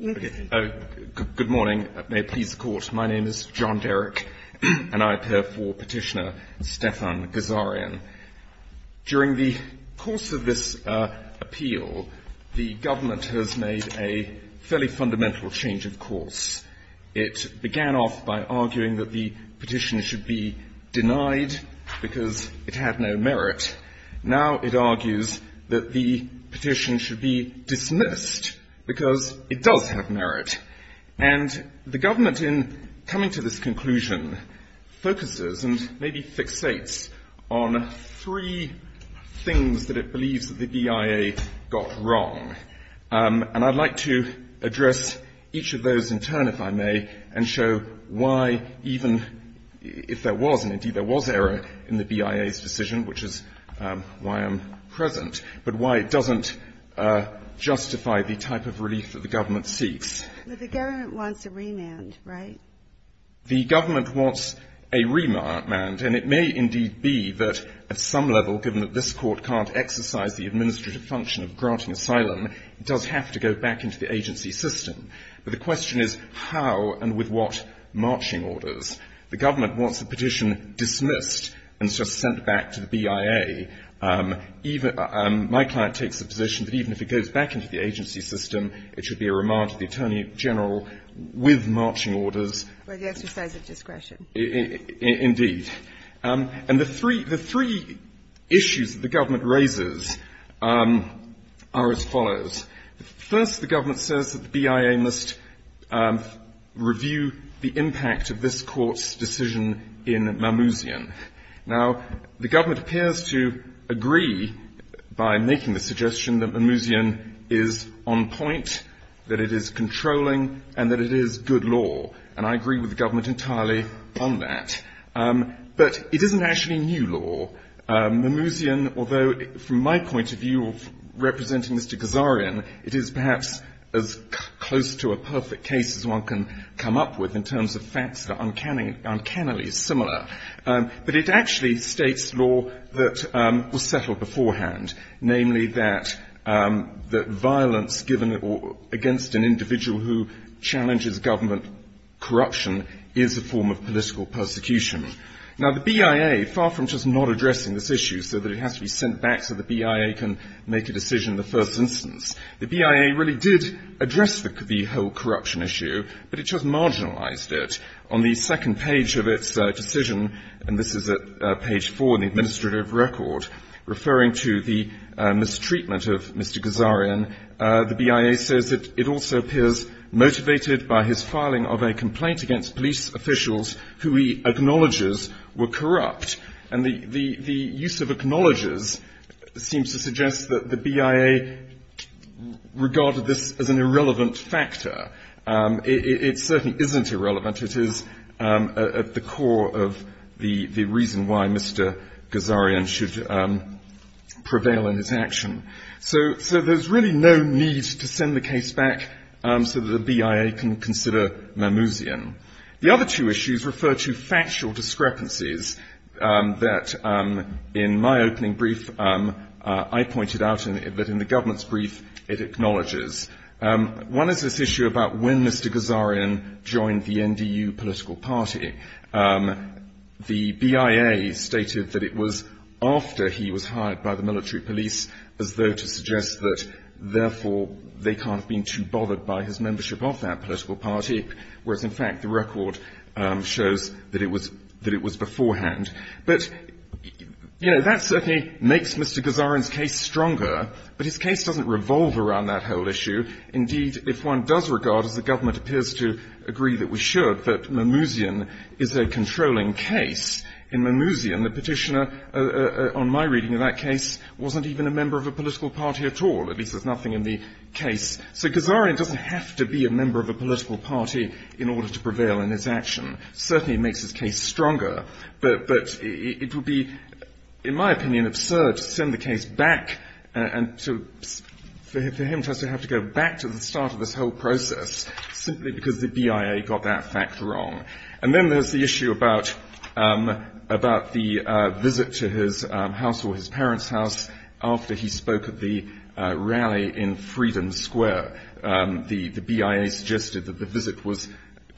Good morning. May it please the Court, my name is John Derrick and I appear for Petitioner Stefan Ghazaryan. During the course of this appeal, the government has made a fairly fundamental change of course. It began off by arguing that the petition should be denied because it had no merit. Now it argues that the petition should be dismissed because it does have merit. And the government in coming to this conclusion focuses and maybe fixates on three things that it believes that the BIA got wrong. And I'd like to address each of those in turn, if I may, and show why even if there was, and indeed there was, error in the BIA's decision, which is why I'm present, but why it doesn't justify the type of relief that the government seeks. The government wants a remand, right? The government wants a remand, and it may indeed be that at some level, given that this Court can't exercise the administrative function of granting asylum, it does have to go back into the agency system. But the question is how and with what marching orders. The government wants the petition dismissed and just sent back to the BIA. My client takes the position that even if it goes back into the agency system, it should be a remand to the Attorney General with marching orders. Indeed. And the three issues that the government raises are as follows. First, the government says that the BIA must review the impact of this Court's decision in Mammoosian. Now, the government appears to agree by making the suggestion that Mammoosian is on point, that it is controlling, and that it is good law. And I agree with the government entirely on that. But it isn't actually new law. Mammoosian, although from my point of view of representing Mr. Ghazarian, it is perhaps as close to a perfect case as one can come up with in terms of facts that are uncannily similar. But it actually states law that was settled beforehand, namely that violence given against an individual who challenges government corruption is a form of political persecution. Now, the BIA, far from just not addressing this issue so that it has to be sent back so the BIA can make a decision in the first instance, the BIA really did address the whole corruption issue, but it just marginalized it. On the second page of its decision, and this is at page 4 in the administrative record, referring to the mistreatment of Mr. Ghazarian, the BIA says that it also appears motivated by his filing of a complaint against police officials who he acknowledges are corrupt. And the use of acknowledges seems to suggest that the BIA regarded this as an irrelevant factor. It certainly isn't irrelevant. It is at the core of the reason why Mr. Ghazarian should prevail in his action. So there's really no need to send the case back so that the BIA can consider Mammoosian. The other two issues refer to factual discrepancies that, in my opening brief, I pointed out that in the government's brief it acknowledges. One is this issue about when Mr. Ghazarian joined the NDU political party. The BIA stated that it was after he was hired by the military police as though to suggest that, therefore, they can't have been too bothered by his membership of that political party. Whereas, in fact, the record shows that it was beforehand. But, you know, that certainly makes Mr. Ghazarian's case stronger, but his case doesn't revolve around that whole issue. Indeed, if one does regard, as the government appears to agree that we should, that Mammoosian is a controlling case, in Mammoosian the Petitioner, on my reading of that case, wasn't even a member of a political party at all. At least there's nothing in the case. So Ghazarian doesn't have to be a member of a political party in order to prevail in his action. Certainly it makes his case stronger, but it would be, in my opinion, absurd to send the case back and for him to have to go back to the start of this whole process simply because the BIA got that fact wrong. And then there's the issue about the visit to his house or his parents' house after he spoke at the rally in Freedom Square. The BIA suggested that the visit was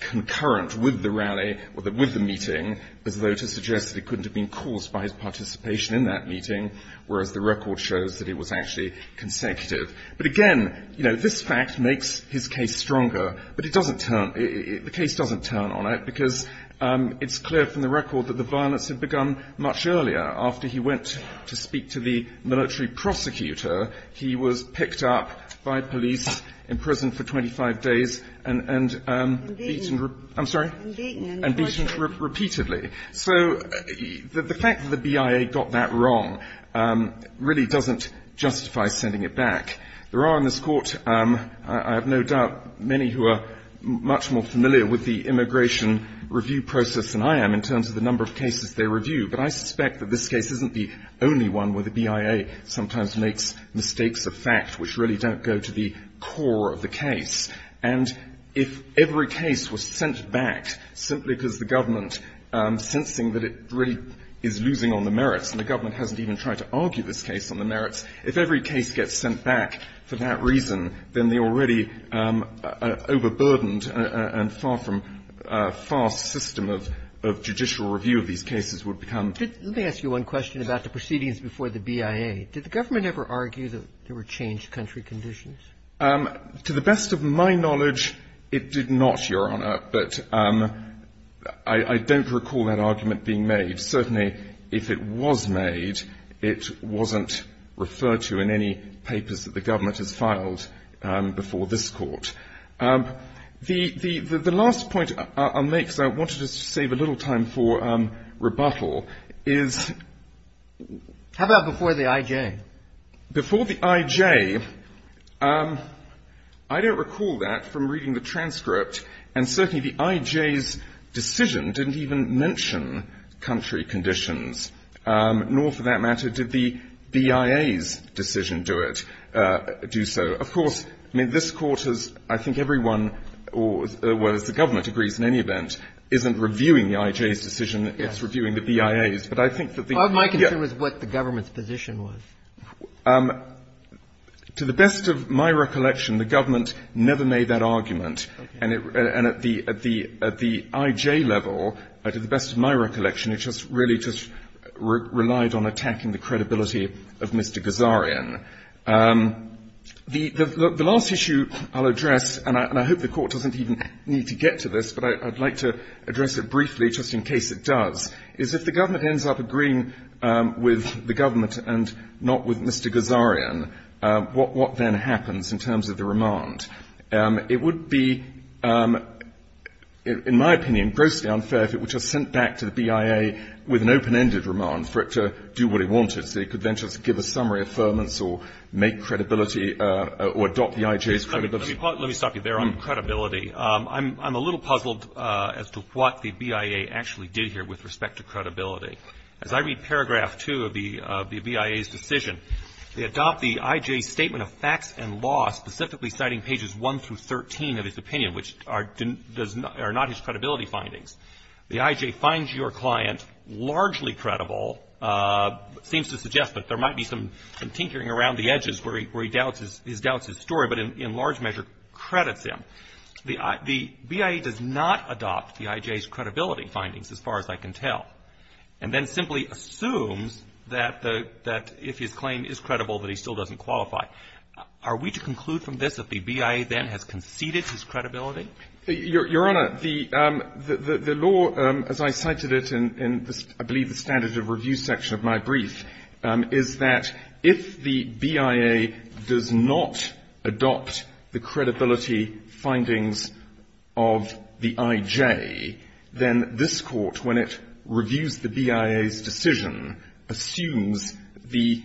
concurrent with the rally, with the meeting, as though to suggest that it couldn't have been caused by his participation in that meeting, whereas the record shows that it was actually consecutive. But again, you know, this fact makes his case stronger, but it doesn't turn – the case doesn't turn on it because it's clear from the record that the violence had begun much earlier after he went to speak to the military prosecutor. He was picked up by police, imprisoned for 25 days, and beaten repeatedly. So the fact that the BIA got that wrong really doesn't justify sending it back. There are in this Court, I have no doubt, many who are much more familiar with the immigration review process than I am in terms of the number of cases they review. But I suspect that this case isn't the only one where the BIA sometimes makes mistakes of fact which really don't go to the core of the case. And if every case was sent back simply because the government, sensing that it really is losing on the merits, and the government hasn't even tried to argue this case on the merits, if every case gets sent back for that reason, then the already overburdened and far from fast system of judicial review of these cases would become – Roberts. Let me ask you one question about the proceedings before the BIA. Did the government ever argue that there were changed country conditions? To the best of my knowledge, it did not, Your Honor. But I don't recall that argument being made. Certainly, if it was made, it wasn't referred to in any papers that the government has filed before this Court. The last point I'll make, because I wanted to save a little time for rebuttal, is – How about before the IJ? Before the IJ, I don't recall that from reading the transcript. And certainly, the IJ's decision didn't even mention country conditions, nor, for that matter, did the BIA's decision do it – do so. Of course, I mean, this Court has – I think everyone, or as the government agrees in any event, isn't reviewing the IJ's decision. It's reviewing the BIA's. But I think that the – The question was what the government's position was. To the best of my recollection, the government never made that argument. And it – and at the – at the IJ level, to the best of my recollection, it just really just relied on attacking the credibility of Mr. Gazarian. The last issue I'll address – and I hope the Court doesn't even need to get to this, but I'd like to address it briefly just in case it does – is if the government ends up agreeing with the government and not with Mr. Gazarian, what then happens in terms of the remand? It would be, in my opinion, grossly unfair if it were just sent back to the BIA with an open-ended remand for it to do what it wanted, so it could then just give a summary of affirmance or make credibility or adopt the IJ's credibility. Let me stop you there on credibility. I'm a little puzzled as to what the BIA actually did here with respect to credibility. As I read paragraph two of the BIA's decision, they adopt the IJ's statement of facts and law specifically citing pages 1 through 13 of his opinion, which are not his credibility findings. The IJ finds your client largely credible, seems to suggest that there might be some tinkering around the edges where he doubts his story, but in large measure credits him. The BIA does not adopt the IJ's credibility findings, as far as I can tell, and then simply assumes that if his claim is credible, that he still doesn't qualify. Are we to conclude from this that the BIA then has conceded his credibility? Your Honor, the law, as I cited it in, I believe, the standards of review section of my brief, is that if the BIA does not adopt the credibility findings of the IJ, then this Court, when it reviews the BIA's decision, assumes the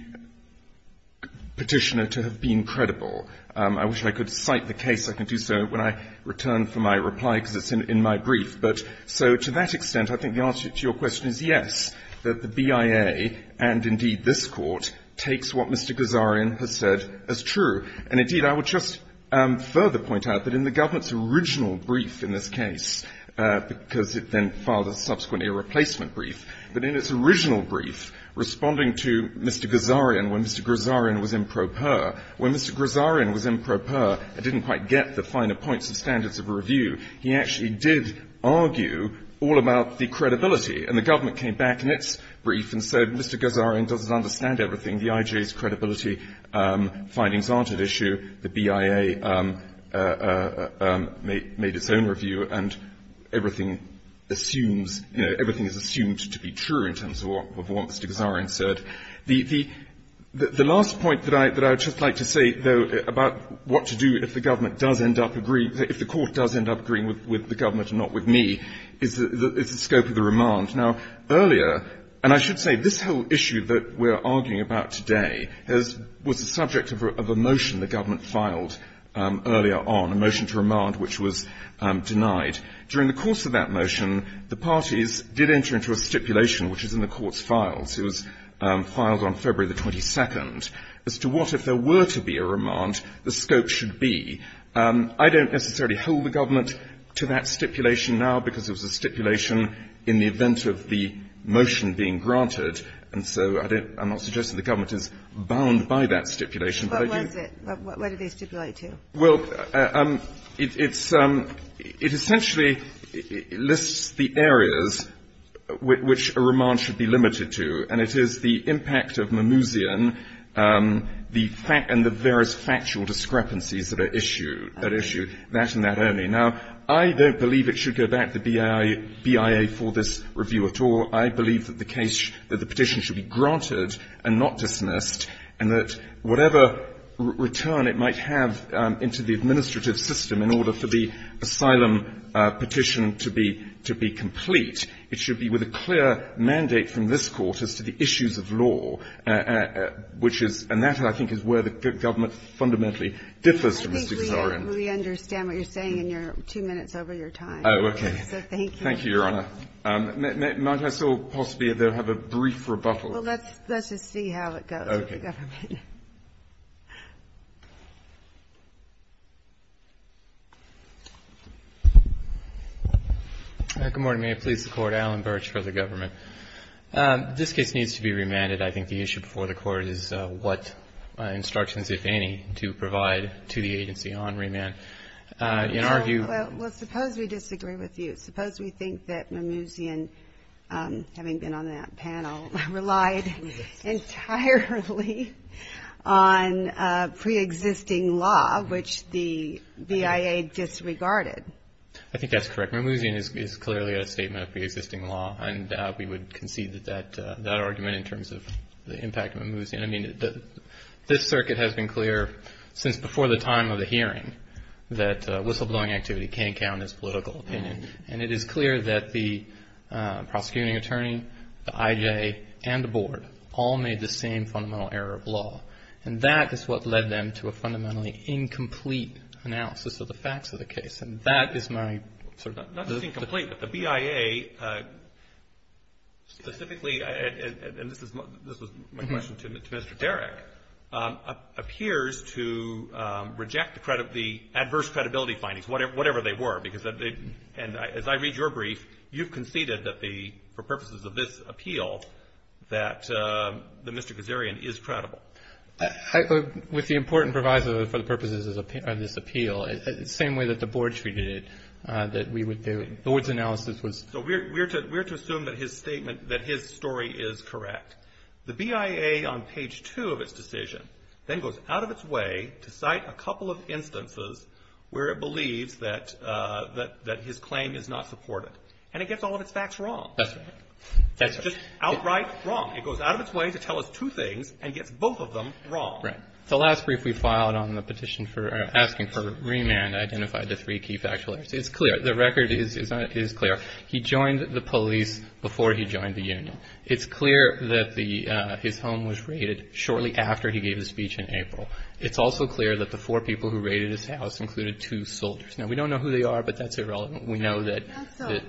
Petitioner to have been credible. I wish I could cite the case. I can do so when I return for my reply, because it's in my brief. But so to that extent, I think the answer to your question is yes, that the BIA, and indeed this Court, takes what Mr. Guzzarian has said as true. And indeed, I would just further point out that in the government's original brief in this case, because it then filed subsequently a replacement brief, but in its original brief, responding to Mr. Guzzarian when Mr. Guzzarian was improper, when Mr. Guzzarian was improper and didn't quite get the finer points of standards of review, he actually did argue all about the credibility. And the government came back in its brief and said, Mr. Guzzarian doesn't understand everything. The IJ's credibility findings aren't at issue. The BIA made its own review, and everything assumes, you know, everything is assumed to be true in terms of what Mr. Guzzarian said. The last point that I would just like to say, though, about what to do if the government does end up agreeing, if the Court does end up agreeing with the government and not with me, is the scope of the remand. Now, earlier, and I should say, this whole issue that we are arguing about today was the subject of a motion the government filed earlier on, a motion to remand which was denied. During the course of that motion, the parties did enter into a stipulation which is in the Court's files. It was filed on February the 22nd as to what, if there were to be a remand, the scope of it should be. I don't necessarily hold the government to that stipulation now because it was a stipulation in the event of the motion being granted, and so I don't – I'm not suggesting the government is bound by that stipulation. But I do – What was it? What did they stipulate to? Well, it's – it essentially lists the areas which a remand should be limited to, and it is the impact of Mimousian and the various factual discrepancies that are issued, that and that only. Now, I don't believe it should go back to BIA for this review at all. I believe that the case – that the petition should be granted and not dismissed and that whatever return it might have into the administrative system in order for the asylum petition to be – to be complete, it should be with a clear mandate from this Court as to the issues of law, which is – and that, I think, is where the government fundamentally differs from Mr. Guzzori. I think we understand what you're saying in your two minutes over your time. Oh, okay. So thank you. Thank you, Your Honor. Might I still possibly, though, have a brief rebuttal? Well, let's just see how it goes with the government. Okay. Good morning. May it please the Court. Alan Birch for the government. This case needs to be remanded. I think the issue before the Court is what instructions, if any, to provide to the agency on remand. In our view – Well, suppose we disagree with you. Suppose we think that Mimouzian, having been on that panel, relied entirely on preexisting law, which the BIA disregarded. I think that's correct. Mimouzian is clearly a statement of preexisting law, and we would concede that that argument in terms of the impact of Mimouzian – I mean, this circuit has been clear since before the time of the hearing that whistleblowing activity can't count as political opinion. And it is clear that the prosecuting attorney, the IJ, and the Board all made the same fundamental error of law, and that is what led them to a fundamentally incomplete analysis of the facts of the case. And that is my – Not just incomplete, but the BIA specifically – and this was my question to Mr. Derrick – appears to reject the adverse credibility findings, whatever they were. Because – and as I read your brief, you've conceded that the – for purposes of this appeal, that Mr. Kazarian is credible. With the important provisos for the purposes of this appeal, the same way that the Board treated it, that we would – the Board's analysis was – So we're to assume that his statement – that his story is correct. The BIA, on page two of its decision, then goes out of its way to cite a couple of instances where it believes that his claim is not supported. And it gets all of its facts wrong. That's right. That's right. It's just outright wrong. It goes out of its way to tell us two things and gets both of them wrong. Right. The last brief we filed on the petition for – asking for remand identified the three key factual errors. It's clear. The record is clear. He joined the police before he joined the union. It's clear that the – his home was raided shortly after he gave his speech in April. It's also clear that the four people who raided his house included two soldiers. Now, we don't know who they are, but that's irrelevant. We know that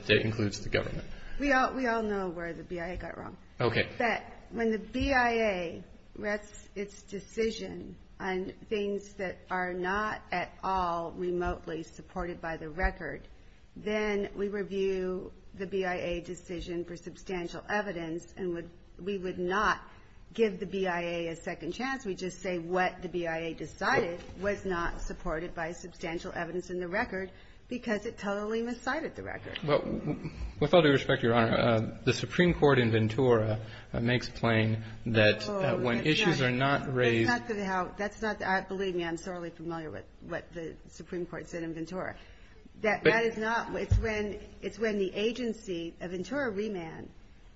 it includes the government. We all know where the BIA got wrong. Okay. But when the BIA rests its decision on things that are not at all remotely supported by the record, then we review the BIA decision for substantial evidence and would – we would not give the BIA a second chance. We'd just say what the BIA decided was not supported by substantial evidence in the record because it totally miscited the record. Well, with all due respect, Your Honor, the Supreme Court in Ventura makes plain that when issues are not raised – That's not how – that's not – believe me, I'm sorely familiar with what the Supreme Court said in Ventura. That is not – it's when the agency – a Ventura remand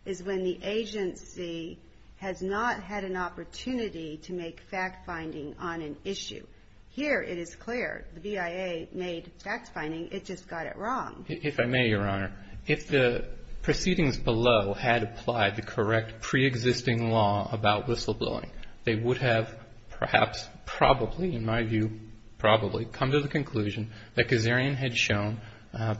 is when the agency has not had an opportunity to make fact-finding on an issue. Here it is clear the BIA made fact-finding. It just got it wrong. If I may, Your Honor, if the proceedings below had applied the correct pre-existing law about whistleblowing, they would have perhaps, probably, in my view, probably come to the conclusion that Kazarian had shown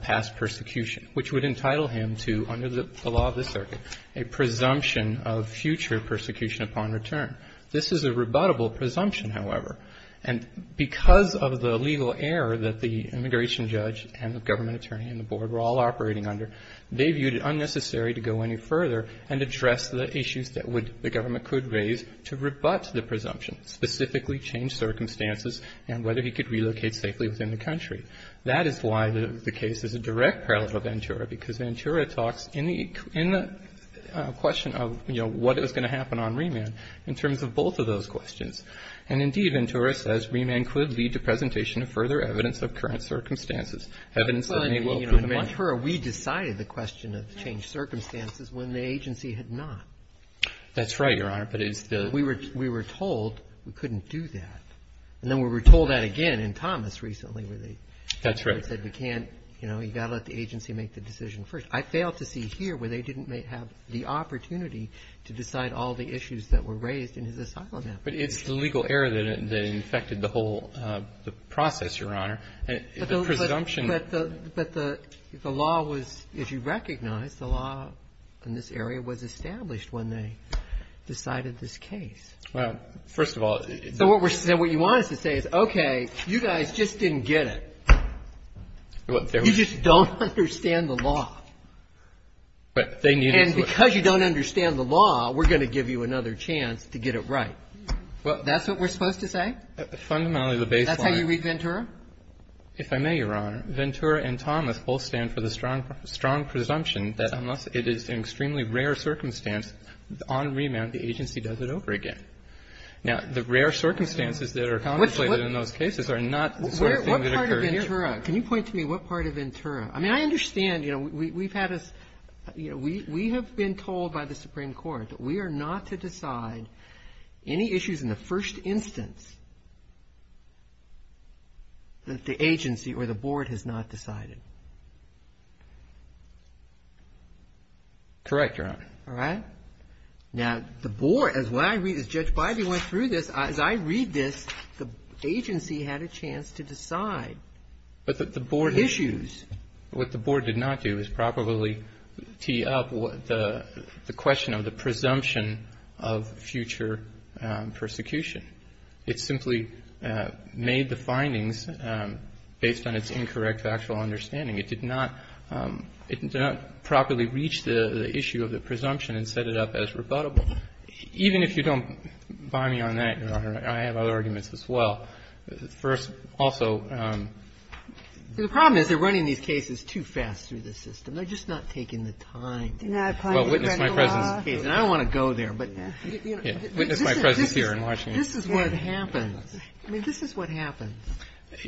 past persecution, which would entitle him to, under the law of the circuit, a presumption of future persecution upon return. This is a rebuttable presumption, however, and because of the legal error that the immigration judge and the government attorney and the board were all operating under, they viewed it unnecessary to go any further and address the issues that would the government could raise to rebut the presumption, specifically change circumstances and whether he could relocate safely within the country. That is why the case is a direct parallel to Ventura, because Ventura talks in the question of, you know, what is going to happen on remand in terms of both of those questions. And, indeed, Ventura says remand could lead to presentation of further evidence of current circumstances, evidence that may well prove the matter. In Ventura, we decided the question of the changed circumstances when the agency had not. That's right, Your Honor, but it's the... We were told we couldn't do that. And then we were told that again in Thomas recently where they... That's right. ...said we can't, you know, you've got to let the agency make the decision first. I failed to see here where they didn't have the opportunity to decide all the issues that were raised in his asylum effort. But it's the legal error that infected the whole process, Your Honor. The presumption... But the law was, if you recognize, the law in this area was established when they decided this case. Well, first of all... So what you want us to say is, okay, you guys just didn't get it. You just don't understand the law. But they needed to... And because you don't understand the law, we're going to give you another chance to get it right. That's what we're supposed to say? Fundamentally, the baseline... That's how you read Ventura? If I may, Your Honor, Ventura and Thomas both stand for the strong presumption that unless it is an extremely rare circumstance, on remand, the agency does it over again. Now, the rare circumstances that are contemplated in those cases are not the sort of thing that occurred here. What part of Ventura? Can you point to me what part of Ventura? I mean, I understand, you know, we've had this, you know, we have been told by the Supreme Court that we the agency or the board has not decided. Correct, Your Honor. All right. Now, the board, as I read this, Judge Bidey went through this, as I read this, the agency had a chance to decide. But the board... Issues. What the board did not do is probably tee up the question of the presumption of future persecution. It simply made the findings based on its incorrect factual understanding. It did not properly reach the issue of the presumption and set it up as rebuttable. Even if you don't buy me on that, Your Honor, I have other arguments as well. First, also... The problem is they're running these cases too fast through the system. They're just not taking the time. Well, witness my presence... And I don't want to go there, but... Witness my presence here in Washington. This is what happens. I mean, this is what happens.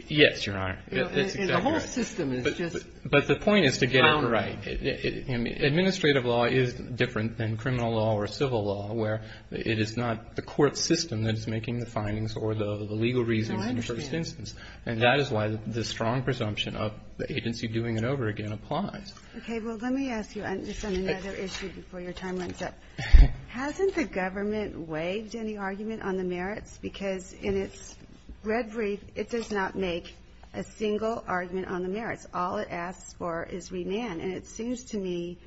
Yes, Your Honor. The whole system is just... But the point is to get it right. Administrative law is different than criminal law or civil law where it is not the court system that is making the findings or the legal reasons in the first instance. And that is why the strong presumption of the agency doing it over again applies. Okay. Well, let me ask you just on another issue before your time runs up. Hasn't the government waived any argument on the merits? Because in its red brief, it does not make a single argument on the merits. All it asks for is remand. And it seems to me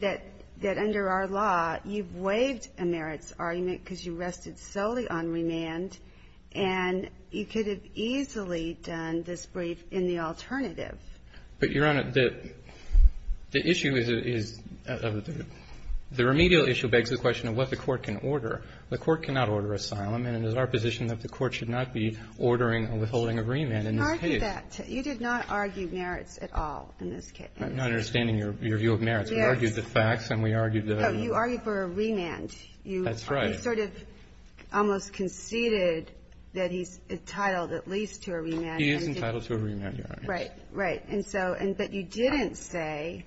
that under our law, you've waived a merits argument because you rested solely on remand, and you could have easily done this brief in the alternative. But, Your Honor, the issue is the remedial issue begs the question of what the court can order. The court cannot order asylum, and it is our position that the court should not be ordering or withholding a remand in this case. You did not argue merits at all in this case. I'm not understanding your view of merits. We argued the facts and we argued the... You argued for a remand. That's right. You sort of almost conceded that he's entitled at least to a remand. He is entitled to a remand, Your Honor. Right, right. And so you didn't say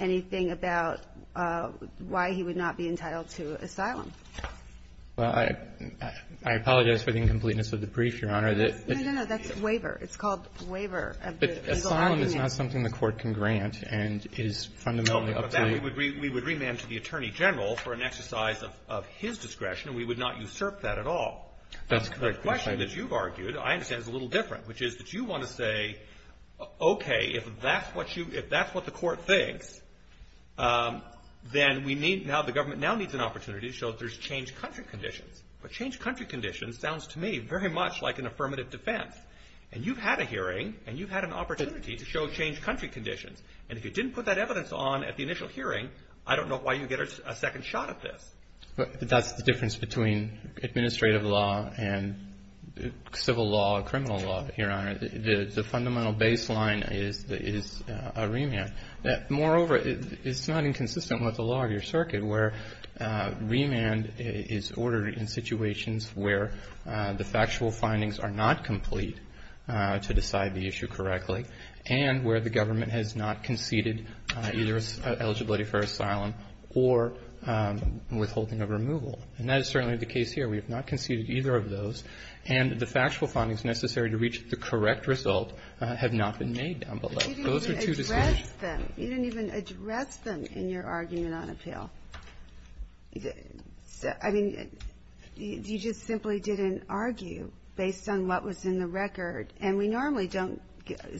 anything about why he would not be entitled to asylum. Well, I apologize for the incompleteness of the brief, Your Honor. No, no, no. That's waiver. It's called waiver of the legal argument. But asylum is not something the court can grant and is fundamentally up to the... No, but we would remand to the Attorney General for an exercise of his discretion, and we would not usurp that at all. That's correct. The question that you've argued, I understand, is a little different, which is that you want to say, okay, if that's what you – if that's what the court thinks, then we need – now the government now needs an opportunity to show that there's changed country conditions. But changed country conditions sounds to me very much like an affirmative defense. And you've had a hearing and you've had an opportunity to show changed country conditions. And if you didn't put that evidence on at the initial hearing, I don't know why you get a second shot at this. But that's the difference between administrative law and civil law, criminal law, Your Honor, where the fundamental baseline is a remand. Moreover, it's not inconsistent with the law of your circuit, where remand is ordered in situations where the factual findings are not complete to decide the issue correctly and where the government has not conceded either eligibility for asylum or withholding of removal. And that is certainly the case here. We have not conceded either of those. And the factual findings necessary to reach the correct result have not been made down below. Those are two distinct – You didn't even address them. You didn't even address them in your argument on appeal. I mean, you just simply didn't argue based on what was in the record. And we normally don't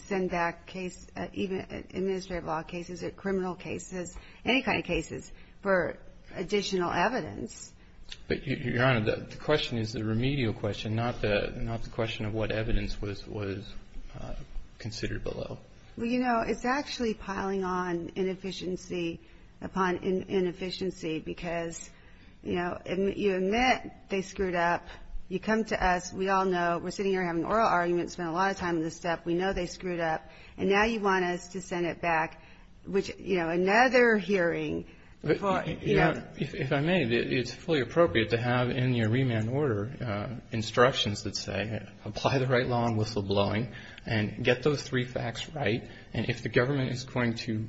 send back case – even administrative law cases or criminal cases, any kind of cases for additional evidence. But, Your Honor, the question is the remedial question, not the question of what evidence was considered below. Well, you know, it's actually piling on inefficiency upon inefficiency because, you know, you admit they screwed up. You come to us. We all know. We're sitting here having oral arguments, spent a lot of time on this stuff. We know they screwed up. And now you want us to send it back, which, you know, another hearing. If I may, it's fully appropriate to have in your remand order instructions that say apply the right law on whistleblowing and get those three facts right. And if the government is going to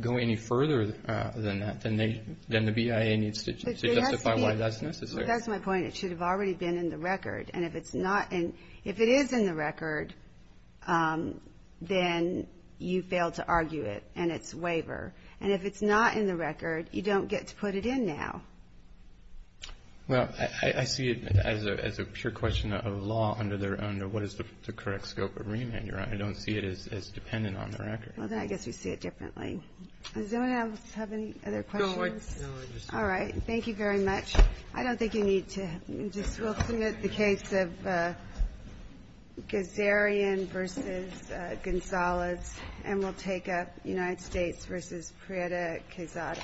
go any further than that, then the BIA needs to justify why that's necessary. That's my point. It should have already been in the record. And if it's not – if it is in the record, then you failed to argue it and it's waiver. And if it's not in the record, you don't get to put it in now. Well, I see it as a pure question of law under their own – what is the correct scope of remand. I don't see it as dependent on the record. Well, then I guess we see it differently. Does anyone else have any other questions? No, I just – All right. Thank you very much. I don't think you need to – just we'll submit the case of Gazarian v. Gonzalez and we'll take up United States v. Prieta Quezada. Thank you.